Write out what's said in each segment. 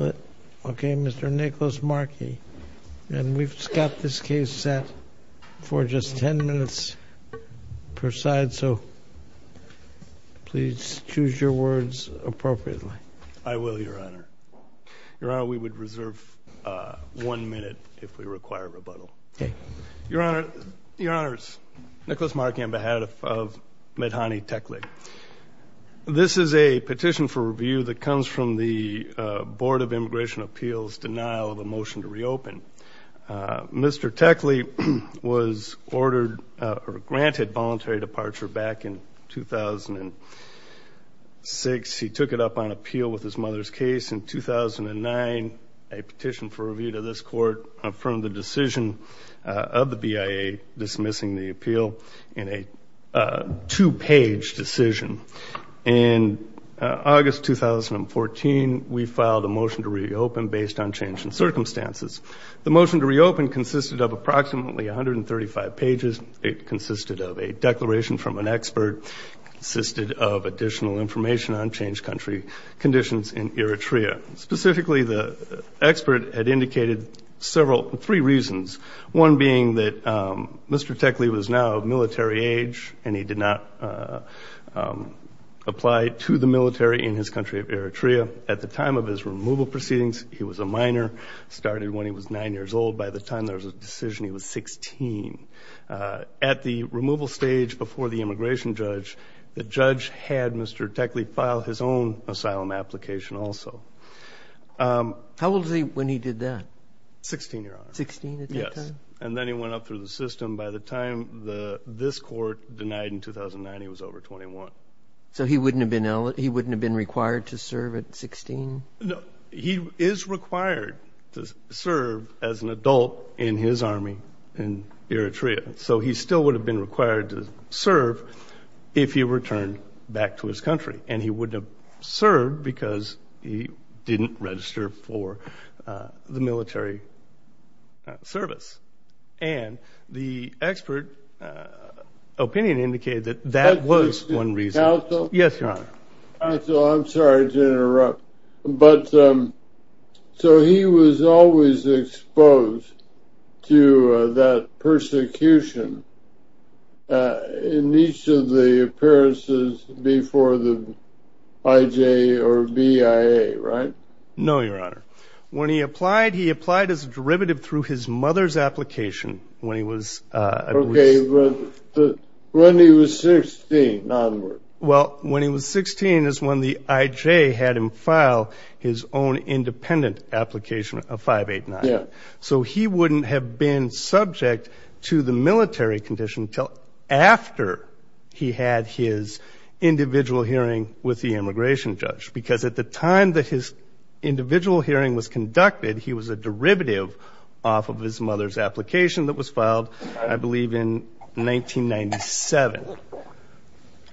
Okay, Mr. Nicholas Markey, and we've got this case set for just 10 minutes per side, so please choose your words appropriately. I will, Your Honor. Your Honor, we would reserve one minute if we require rebuttal. Okay. Your Honor, Your Honors, Nicholas Markey on behalf of Medhanie Techley. This is a petition for review that comes from the Board of Immigration Appeals' denial of a motion to reopen. Mr. Techley was ordered or granted voluntary departure back in 2006. He took it up on appeal with his mother's case in 2009. A petition for review to this court affirmed the decision of the BIA dismissing the appeal in a two-page decision. In August 2014, we filed a motion to reopen based on changing circumstances. The motion to reopen consisted of approximately 135 pages. It consisted of a declaration from an expert, consisted of additional information on changed country conditions in Eritrea. Specifically, the expert had indicated three reasons, one being that Mr. Techley was now of military age and he did not apply to the military in his country of Eritrea. At the time of his removal proceedings, he was a minor, started when he was 9 years old. By the time there was a decision, he was 16. At the removal stage before the immigration judge, the judge had Mr. Techley file his own asylum application also. How old was he when he did that? 16, Your Honor. 16 at that time? Yes, and then he went up through the system. By the time this court denied in 2009, he was over 21. So he wouldn't have been required to serve at 16? No, he is required to serve as an adult in his army in Eritrea. So he still would have been required to serve if he returned back to his country. And he wouldn't have served because he didn't register for the military service. And the expert opinion indicated that that was one reason. Counsel? Yes, Your Honor. Counsel, I'm sorry to interrupt. But, so he was always exposed to that persecution in each of the appearances before the IJ or BIA, right? No, Your Honor. When he applied, he applied as a derivative through his mother's application when he was... Okay, but when he was 16 onward. Well, when he was 16 is when the IJ had him file his own independent application of 589. Yeah. So he wouldn't have been subject to the military condition until after he had his individual hearing with the immigration judge. Because at the time that his individual hearing was conducted, he was a derivative off of his mother's application that was filed, I believe, in 1997.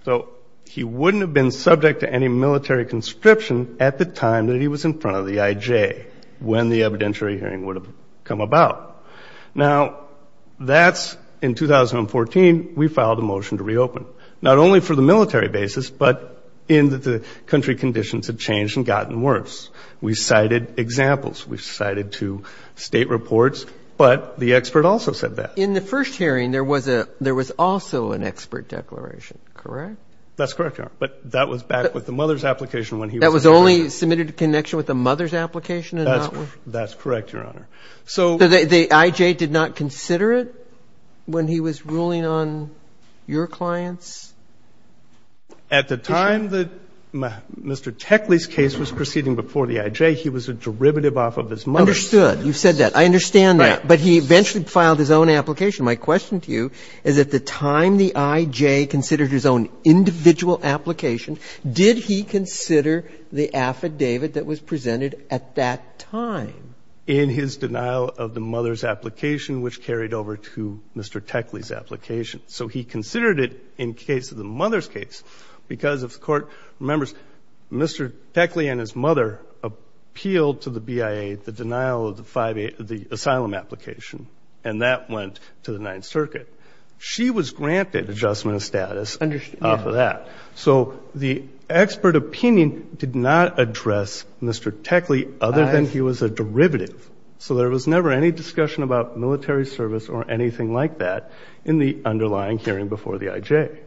So he wouldn't have been subject to any military conscription at the time that he was in front of the IJ when the evidentiary hearing would have come about. Now, that's in 2014. We filed a motion to reopen, not only for the military basis, but in that the country conditions had changed and gotten worse. We cited examples. We cited two State reports. But the expert also said that. In the first hearing, there was also an expert declaration, correct? That's correct, Your Honor. But that was back with the mother's application when he was... That was only submitted in connection with the mother's application and not with... That's correct, Your Honor. So the IJ did not consider it when he was ruling on your clients? At the time that Mr. Techley's case was proceeding before the IJ, he was a derivative off of his mother's. Understood. You've said that. I understand that. But he eventually filed his own application. My question to you is, at the time the IJ considered his own individual application, did he consider the affidavit that was presented at that time? In his denial of the mother's application, which carried over to Mr. Techley's application. So he considered it in case of the mother's case because, if the Court remembers, Mr. Techley and his mother appealed to the BIA the denial of the asylum application, and that went to the Ninth Circuit. She was granted adjustment of status off of that. So the expert opinion did not address Mr. Techley other than he was a derivative. So there was never any discussion about military service or anything like that in the underlying hearing before the IJ.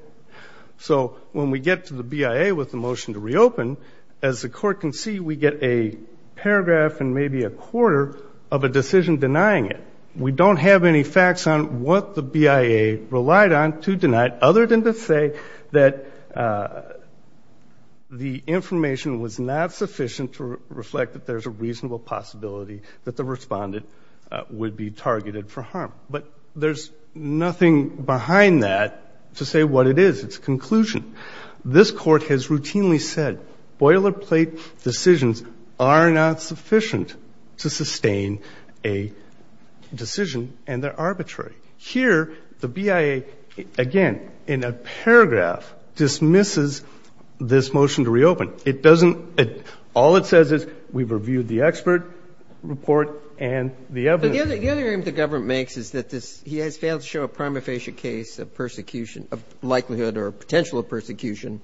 So when we get to the BIA with the motion to reopen, as the Court can see, we get a paragraph and maybe a quarter of a decision denying it. We don't have any facts on what the BIA relied on to deny it, other than to say that the information was not sufficient to reflect that there's a reasonable possibility But there's nothing behind that to say what it is. It's a conclusion. This Court has routinely said boilerplate decisions are not sufficient to sustain a decision and they're arbitrary. Here, the BIA, again, in a paragraph dismisses this motion to reopen. It doesn't – all it says is we've reviewed the expert report and the evidence. But it is a decision. It's not a military decision. And the point of the argument the government makes is that this – he has failed to show a prima facie case of persecution – of likelihood or potential of persecution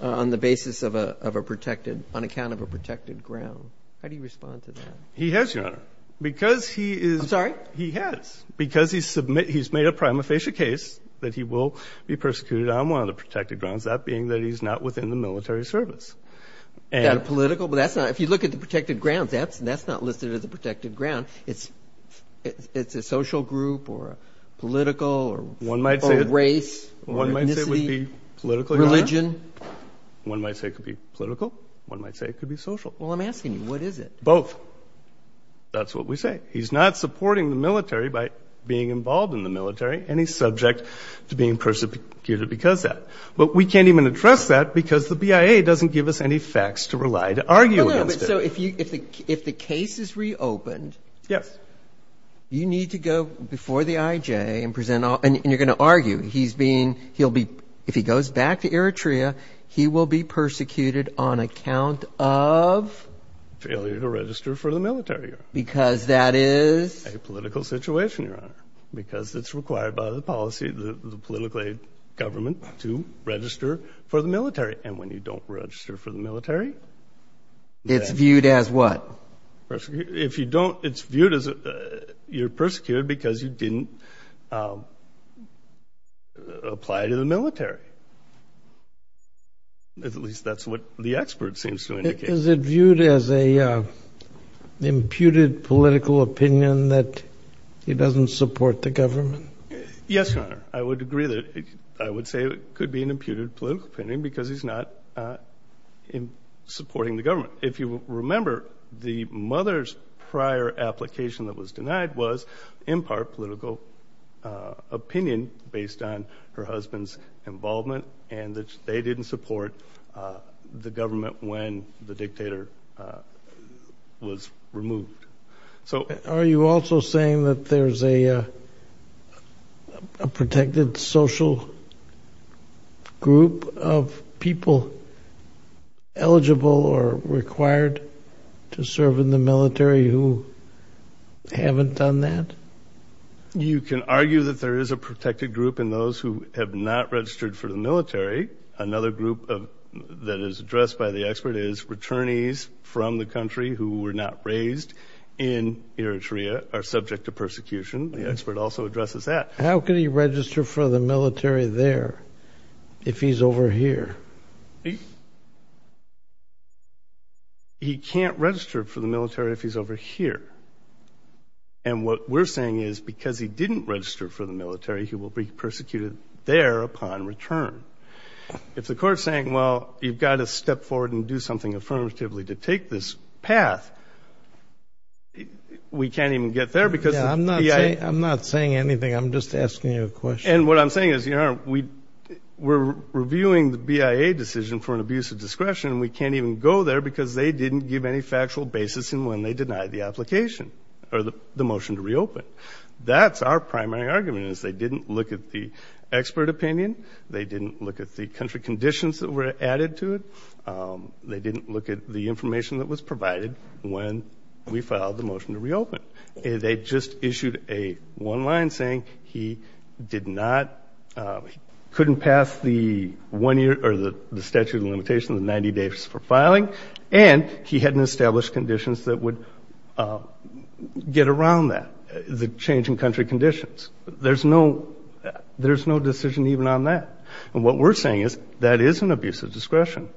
on the basis of a protected – on account of a protected ground. How do you respond to that? He has, Your Honor. Because he is – I'm sorry? He has. He has. Because he's made a prima facie case that he will be persecuted on one of the protected grounds, that being that he's not within the military service. Is that a political – but that's not – if you look at the protected grounds, that's not listed as a protected ground. It's a social group or a political or race or ethnicity? One might say it would be political, Your Honor. Religion? One might say it could be political. One might say it could be social. Well, I'm asking you, what is it? Both. That's what we say. He's not supporting the military by being involved in the military, and he's subject to being persecuted because of that. But we can't even address that because the BIA doesn't give us any facts to rely to argue against it. So if the case is reopened – Yes. – you need to go before the IJ and present – and you're going to argue he's being – he'll be – if he goes back to Eritrea, he will be persecuted on account of? Failure to register for the military, Your Honor. Because that is? A political situation, Your Honor. Because it's required by the policy of the political aid government to register for the military. And when you don't register for the military – It's viewed as what? If you don't – it's viewed as you're persecuted because you didn't apply to the military. At least that's what the expert seems to indicate. Is it viewed as an imputed political opinion that he doesn't support the government? Yes, Your Honor. I would agree that – I would say it could be an imputed political opinion because he's not supporting the government. If you remember, the mother's prior application that was denied was, in part, political opinion based on her husband's involvement and that they didn't support the government when the dictator was removed. Are you also saying that there's a protected social group of people eligible or required to serve in the military who haven't done that? You can argue that there is a protected group in those who have not registered for the military. Another group that is addressed by the expert is returnees from the country who were not raised in Eritrea are subject to persecution. The expert also addresses that. How can he register for the military there if he's over here? He can't register for the military if he's over here. And what we're saying is because he didn't register for the military, he will be persecuted there upon return. If the court is saying, well, you've got to step forward and do something affirmatively to take this path, we can't even get there because the BIA – I'm not saying anything. I'm just asking you a question. And what I'm saying is, Your Honor, we're reviewing the BIA decision for an abuse of discretion and we can't even go there because they didn't give any factual basis in when they denied the application or the motion to reopen. That's our primary argument is they didn't look at the expert opinion. They didn't look at the country conditions that were added to it. They didn't look at the information that was provided when we filed the motion to reopen. They just issued a one-line saying he did not – couldn't pass the statute of limitations, the 90 days for filing, and he hadn't established conditions that would get around that, the changing country conditions. There's no decision even on that. And what we're saying is that is an abuse of discretion,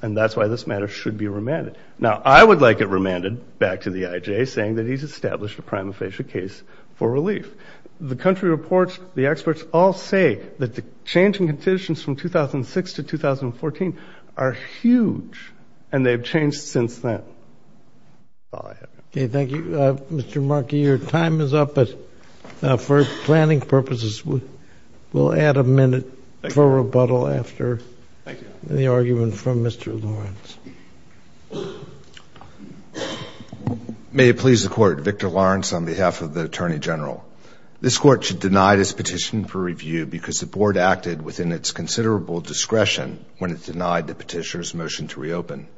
and that's why this matter should be remanded. Now, I would like it remanded back to the IJ saying that he's established a prima facie case for relief. The country reports, the experts all say that the changing conditions from 2006 to 2014 are huge, and they've changed since then. Okay, thank you. Mr. Markey, your time is up. But for planning purposes, we'll add a minute for rebuttal after the argument from Mr. Lawrence. May it please the Court, Victor Lawrence on behalf of the Attorney General. This Court should deny this petition for review because the Board acted within its considerable discretion when it denied the petitioner's motion to reopen.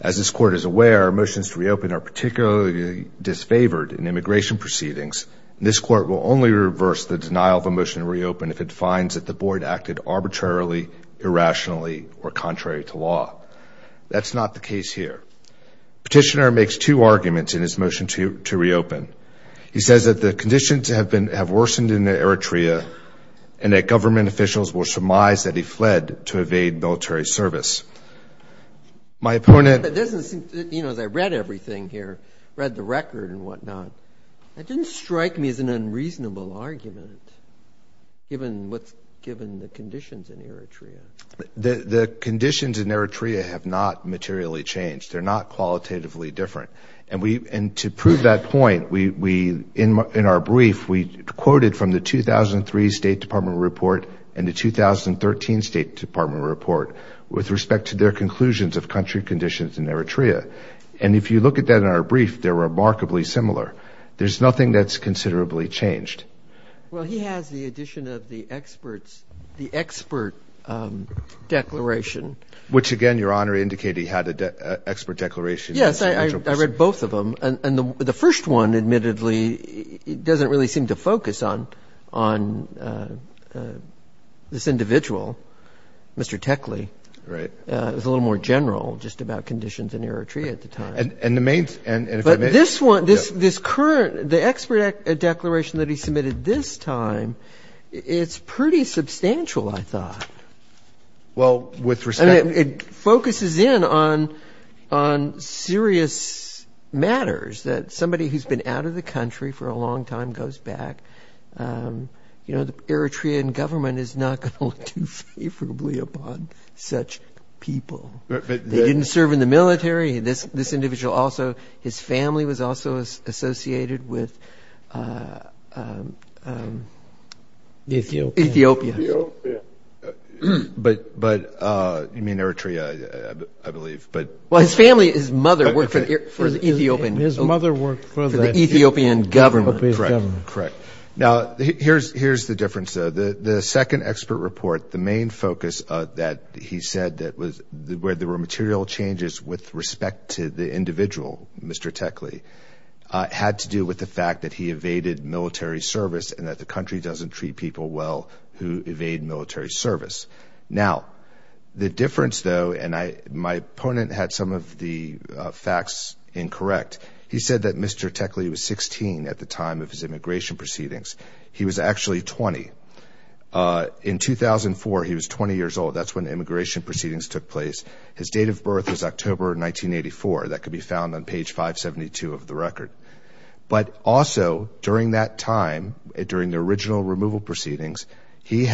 As this Court is aware, motions to reopen are particularly disfavored in immigration proceedings, and this Court will only reverse the denial of a motion to reopen if it finds that the Board acted arbitrarily, irrationally, or contrary to law. That's not the case here. Petitioner makes two arguments in his motion to reopen. He says that the conditions have worsened in Eritrea, and that government officials will surmise that he fled to evade military service. My opponent. It doesn't seem, you know, as I read everything here, read the record and whatnot, it didn't strike me as an unreasonable argument, given what's given the conditions in Eritrea. The conditions in Eritrea have not materially changed. They're not qualitatively different. And to prove that point, in our brief, we quoted from the 2003 State Department report and the 2013 State Department report with respect to their conclusions of country conditions in Eritrea. And if you look at that in our brief, they're remarkably similar. There's nothing that's considerably changed. Well, he has the addition of the experts, the expert declaration. Which, again, Your Honor, indicated he had an expert declaration. Yes. I read both of them. And the first one, admittedly, doesn't really seem to focus on this individual, Mr. Techley. Right. It was a little more general, just about conditions in Eritrea at the time. And the main ‑‑ But this one, this current, the expert declaration that he submitted this time, it's pretty substantial, I thought. Well, with respect ‑‑ I mean, it focuses in on serious matters that somebody who's been out of the country for a long time goes back. You know, the Eritrean government is not going to look too favorably upon such people. They didn't serve in the military. This individual also, his family was also associated with Ethiopia. But you mean Eritrea, I believe. Well, his family, his mother worked for the Ethiopian government. His mother worked for the Ethiopian government. Correct. Now, here's the difference, though. The second expert report, the main focus that he said that was where there were material changes with respect to the individual, Mr. Techley, had to do with the fact that he evaded military service and that the country doesn't treat people well who evade military service. Now, the difference, though, and my opponent had some of the facts incorrect, he said that Mr. Techley was 16 at the time of his immigration proceedings. He was actually 20. In 2004, he was 20 years old. That's when the immigration proceedings took place. His date of birth was October 1984. That could be found on page 572 of the record. But also, during that time, during the original removal proceedings, he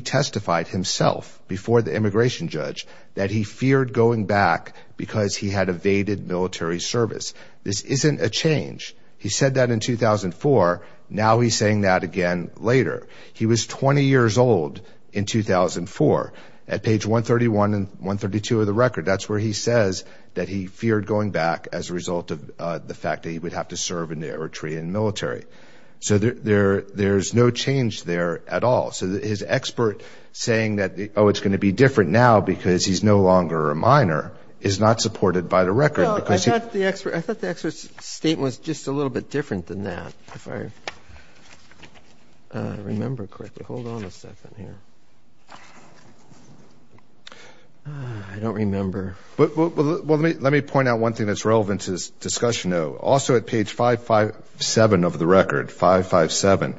testified himself before the immigration judge that he feared going back because he had evaded military service. This isn't a change. He said that in 2004. Now he's saying that again later. He was 20 years old in 2004 at page 131 and 132 of the record. That's where he says that he feared going back as a result of the fact that he would have to serve in the Eritrean military. So there's no change there at all. So his expert saying that, oh, it's going to be different now because he's no longer a minor, is not supported by the record. Well, I thought the expert's statement was just a little bit different than that, if I remember correctly. Hold on a second here. I don't remember. Well, let me point out one thing that's relevant to this discussion, though. Also at page 557 of the record, 557,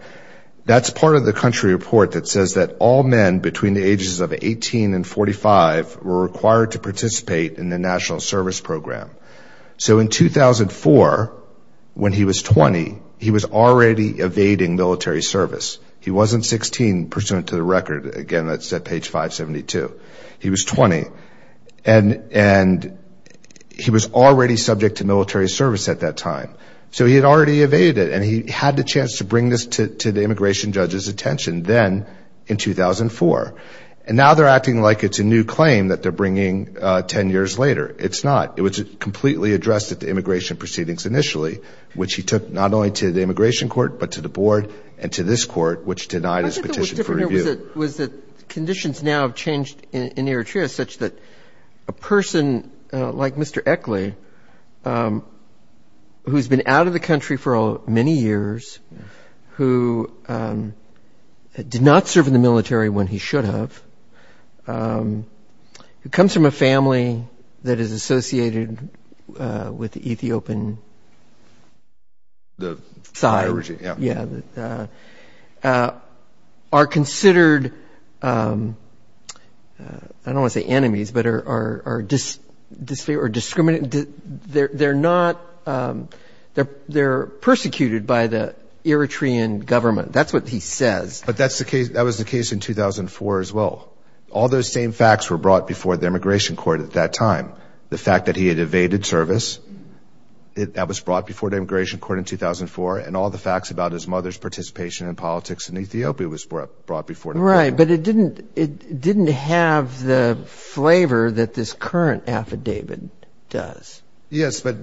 that's part of the country report that says that all men between the ages of 18 and 45 were required to participate in the National Service Program. So in 2004, when he was 20, he was already evading military service. He wasn't 16 pursuant to the record. Again, that's at page 572. He was 20, and he was already subject to military service at that time. So he had already evaded it, and he had the chance to bring this to the immigration judge's attention then in 2004. And now they're acting like it's a new claim that they're bringing 10 years later. It's not. It was completely addressed at the immigration proceedings initially, which he took not only to the immigration court but to the board and to this court, which denied his petition for review. I thought what was different here was that conditions now have changed in Eritrea, such that a person like Mr. Eckley, who's been out of the country for many years, who did not serve in the military when he should have, who comes from a family that is associated with the Ethiopian side, are considered, I don't want to say enemies, but are discriminated. They're persecuted by the Eritrean government. That's what he says. But that was the case in 2004 as well. All those same facts were brought before the immigration court at that time. The fact that he had evaded service, that was brought before the immigration court in 2004, and all the facts about his mother's participation in politics in Ethiopia was brought before the immigration court. Right, but it didn't have the flavor that this current affidavit does. Yes, but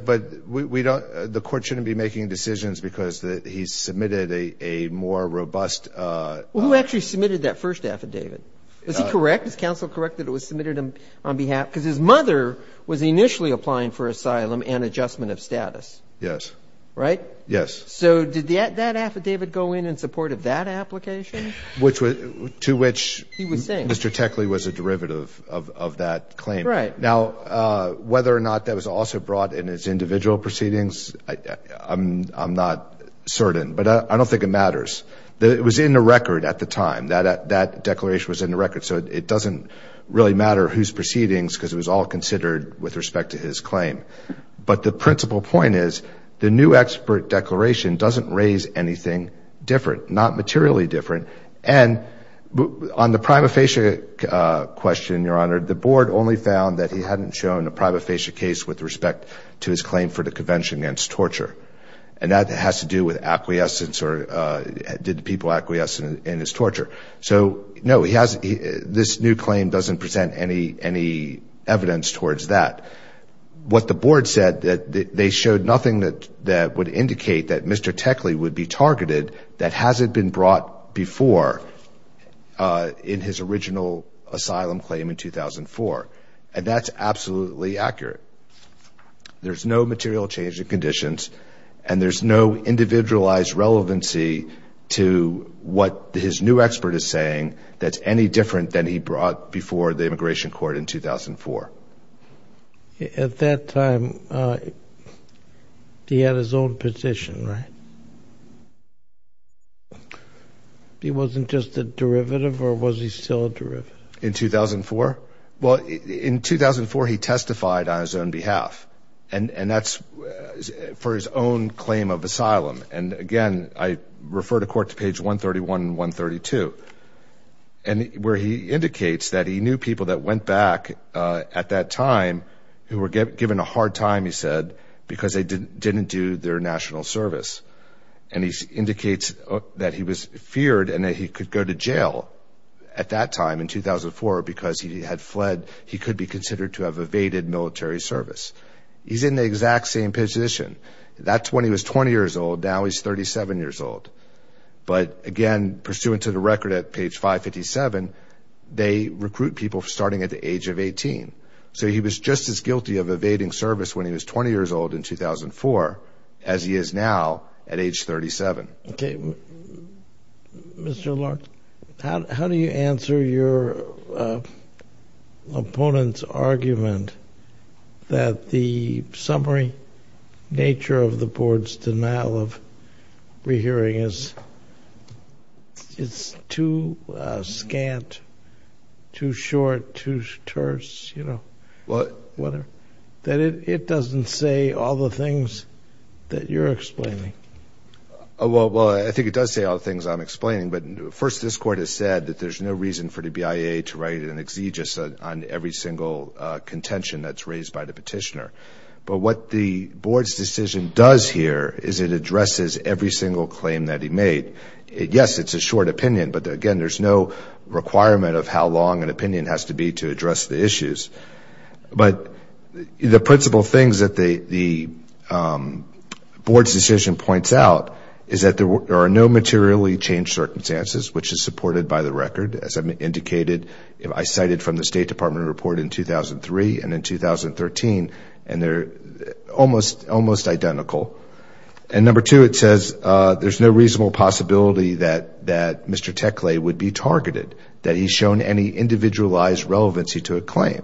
we don't, the court shouldn't be making decisions because he submitted a more robust. Well, who actually submitted that first affidavit? Is he correct? Is counsel correct that it was submitted on behalf, because his mother was initially applying for asylum and adjustment of status. Yes. Right? Yes. So did that affidavit go in in support of that application? To which Mr. Techley was a derivative of that claim. Right. Now, whether or not that was also brought in as individual proceedings, I'm not certain. But I don't think it matters. It was in the record at the time. That declaration was in the record. So it doesn't really matter whose proceedings, because it was all considered with respect to his claim. But the principal point is the new expert declaration doesn't raise anything different, not materially different. And on the prima facie question, Your Honor, the board only found that he hadn't shown a prima facie case with respect to his claim for the convention against torture. And that has to do with acquiescence or did the people acquiesce in his torture. So, no, this new claim doesn't present any evidence towards that. What the board said, they showed nothing that would indicate that Mr. Techley would be targeted that hasn't been brought before in his original asylum claim in 2004. And that's absolutely accurate. There's no material change in conditions, and there's no individualized relevancy to what his new expert is saying that's any different than he brought before the immigration court in 2004. At that time, he had his own position, right? He wasn't just a derivative or was he still a derivative? In 2004? Well, in 2004, he testified on his own behalf. And that's for his own claim of asylum. And, again, I refer to court to page 131 and 132, where he indicates that he knew people that went back at that time who were given a hard time, he said, because they didn't do their national service. And he indicates that he was feared and that he could go to jail at that time in 2004 because he had fled. He could be considered to have evaded military service. He's in the exact same position. That's when he was 20 years old. Now he's 37 years old. But, again, pursuant to the record at page 557, they recruit people starting at the age of 18. So he was just as guilty of evading service when he was 20 years old in 2004 as he is now at age 37. Okay. Mr. Larkin, how do you answer your opponent's argument that the summary nature of the board's denial of rehearing is too scant, too short, too terse, you know? What? That it doesn't say all the things that you're explaining. Well, I think it does say all the things I'm explaining. But, first, this Court has said that there's no reason for the BIA to write an exegesis on every single contention that's raised by the petitioner. But what the board's decision does here is it addresses every single claim that he made. Yes, it's a short opinion. But, again, there's no requirement of how long an opinion has to be to address the issues. But the principal things that the board's decision points out is that there are no materially changed circumstances, which is supported by the record, as I've indicated. I cited from the State Department report in 2003 and in 2013, and they're almost identical. And, number two, it says there's no reasonable possibility that Mr. Tekle would be targeted, that he's shown any individualized relevancy to a claim.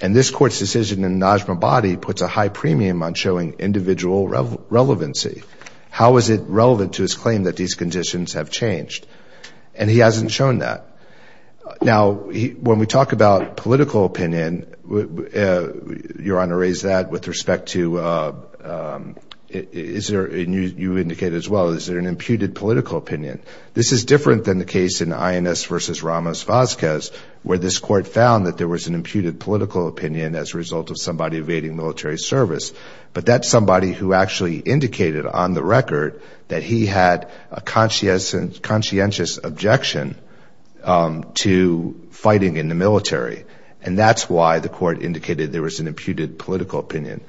And this Court's decision in the Najma body puts a high premium on showing individual relevancy. How is it relevant to his claim that these conditions have changed? And he hasn't shown that. Now, when we talk about political opinion, Your Honor, raise that with respect to, you indicated as well, is there an imputed political opinion? This is different than the case in INS versus Ramos-Vazquez, where this Court found that there was an imputed political opinion as a result of somebody evading military service. But that's somebody who actually indicated on the record that he had a conscientious objection to fighting in the military. And that's why the Court indicated there was an imputed political opinion.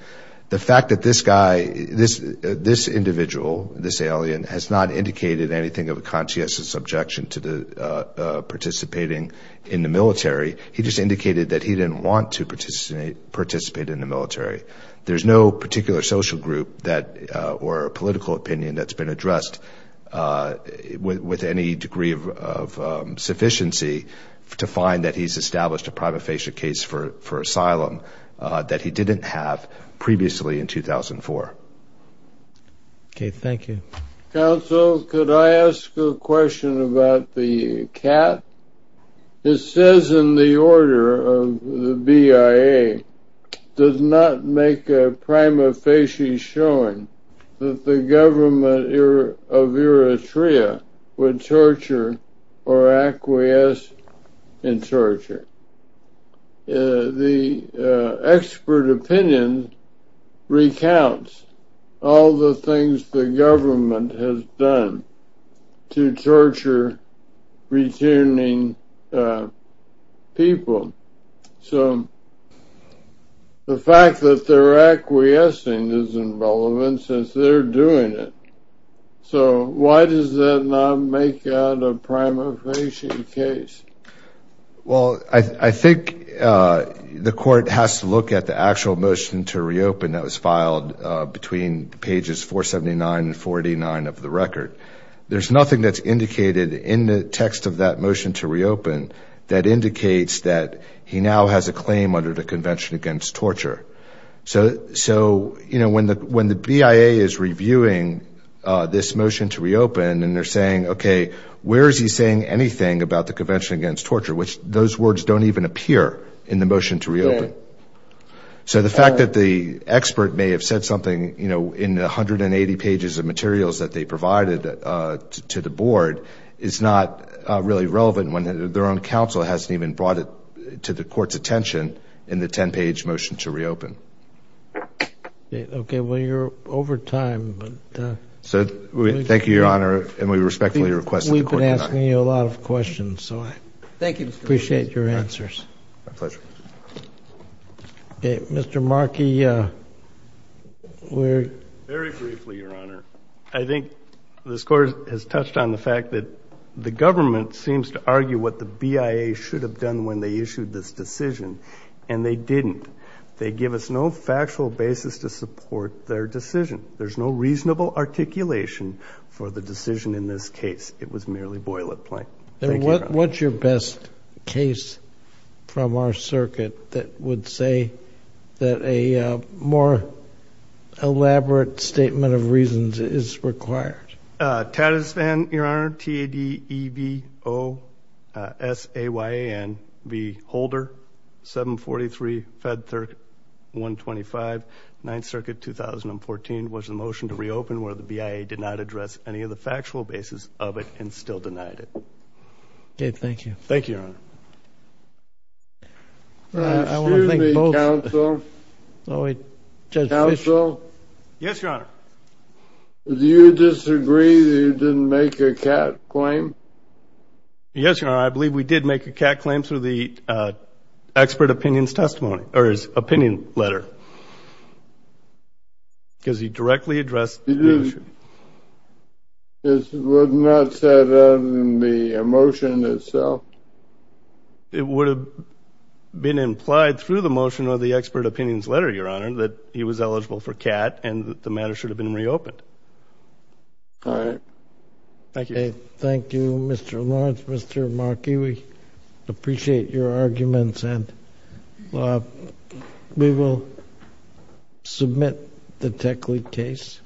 The fact that this guy, this individual, this alien, has not indicated anything of a conscientious objection to participating in the military, he just indicated that he didn't want to participate in the military. There's no particular social group or political opinion that's been addressed with any degree of sufficiency to find that he's established a prima facie case for asylum that he didn't have previously in 2004. Okay, thank you. Counsel, could I ask a question about the cat? It says in the order of the BIA, does not make a prima facie showing that the government of Eritrea would torture or acquiesce in torture. The expert opinion recounts all the things the government has done to torture returning people. So the fact that they're acquiescing is irrelevant since they're doing it. So why does that not make that a prima facie case? Well, I think the Court has to look at the actual motion to reopen that was filed between pages 479 and 489 of the record. There's nothing that's indicated in the text of that motion to reopen that indicates that he now has a claim under the Convention Against Torture. So when the BIA is reviewing this motion to reopen and they're saying, okay, where is he saying anything about the Convention Against Torture, which those words don't even appear in the motion to reopen. So the fact that the expert may have said something in the 180 pages of materials that they provided to the board is not really relevant when their own counsel hasn't even brought it to the Court's attention in the 10-page motion to reopen. Okay. Well, you're over time. So thank you, Your Honor, and we respectfully request that the Court deny. We've been asking you a lot of questions, so I appreciate your answers. My pleasure. Okay. Mr. Markey. Very briefly, Your Honor. I think this Court has touched on the fact that the government seems to argue what the BIA should have done when they issued this decision, and they didn't. They give us no factual basis to support their decision. There's no reasonable articulation for the decision in this case. Thank you, Your Honor. What would be the best case from our circuit that would say that a more elaborate statement of reasons is required? TATASVAN, Your Honor, T-A-D-E-V-O-S-A-Y-A-N-V, Holder, 743 Fed 135, 9th Circuit, 2014, was the motion to reopen where the BIA did not address any of the factual basis of it and still denied it. Okay, thank you. Thank you, Your Honor. Excuse me, counsel. Judge Fischer. Counsel. Yes, Your Honor. Do you disagree that you didn't make a CAT claim? Yes, Your Honor. I believe we did make a CAT claim through the expert opinions testimony, or his opinion letter, because he directly addressed the issue. This was not said in the motion itself. It would have been implied through the motion of the expert opinions letter, Your Honor, that he was eligible for CAT and that the matter should have been reopened. All right. Thank you. Thank you, Mr. Lawrence. Mr. Markey, we appreciate your arguments. We will submit the Techley case.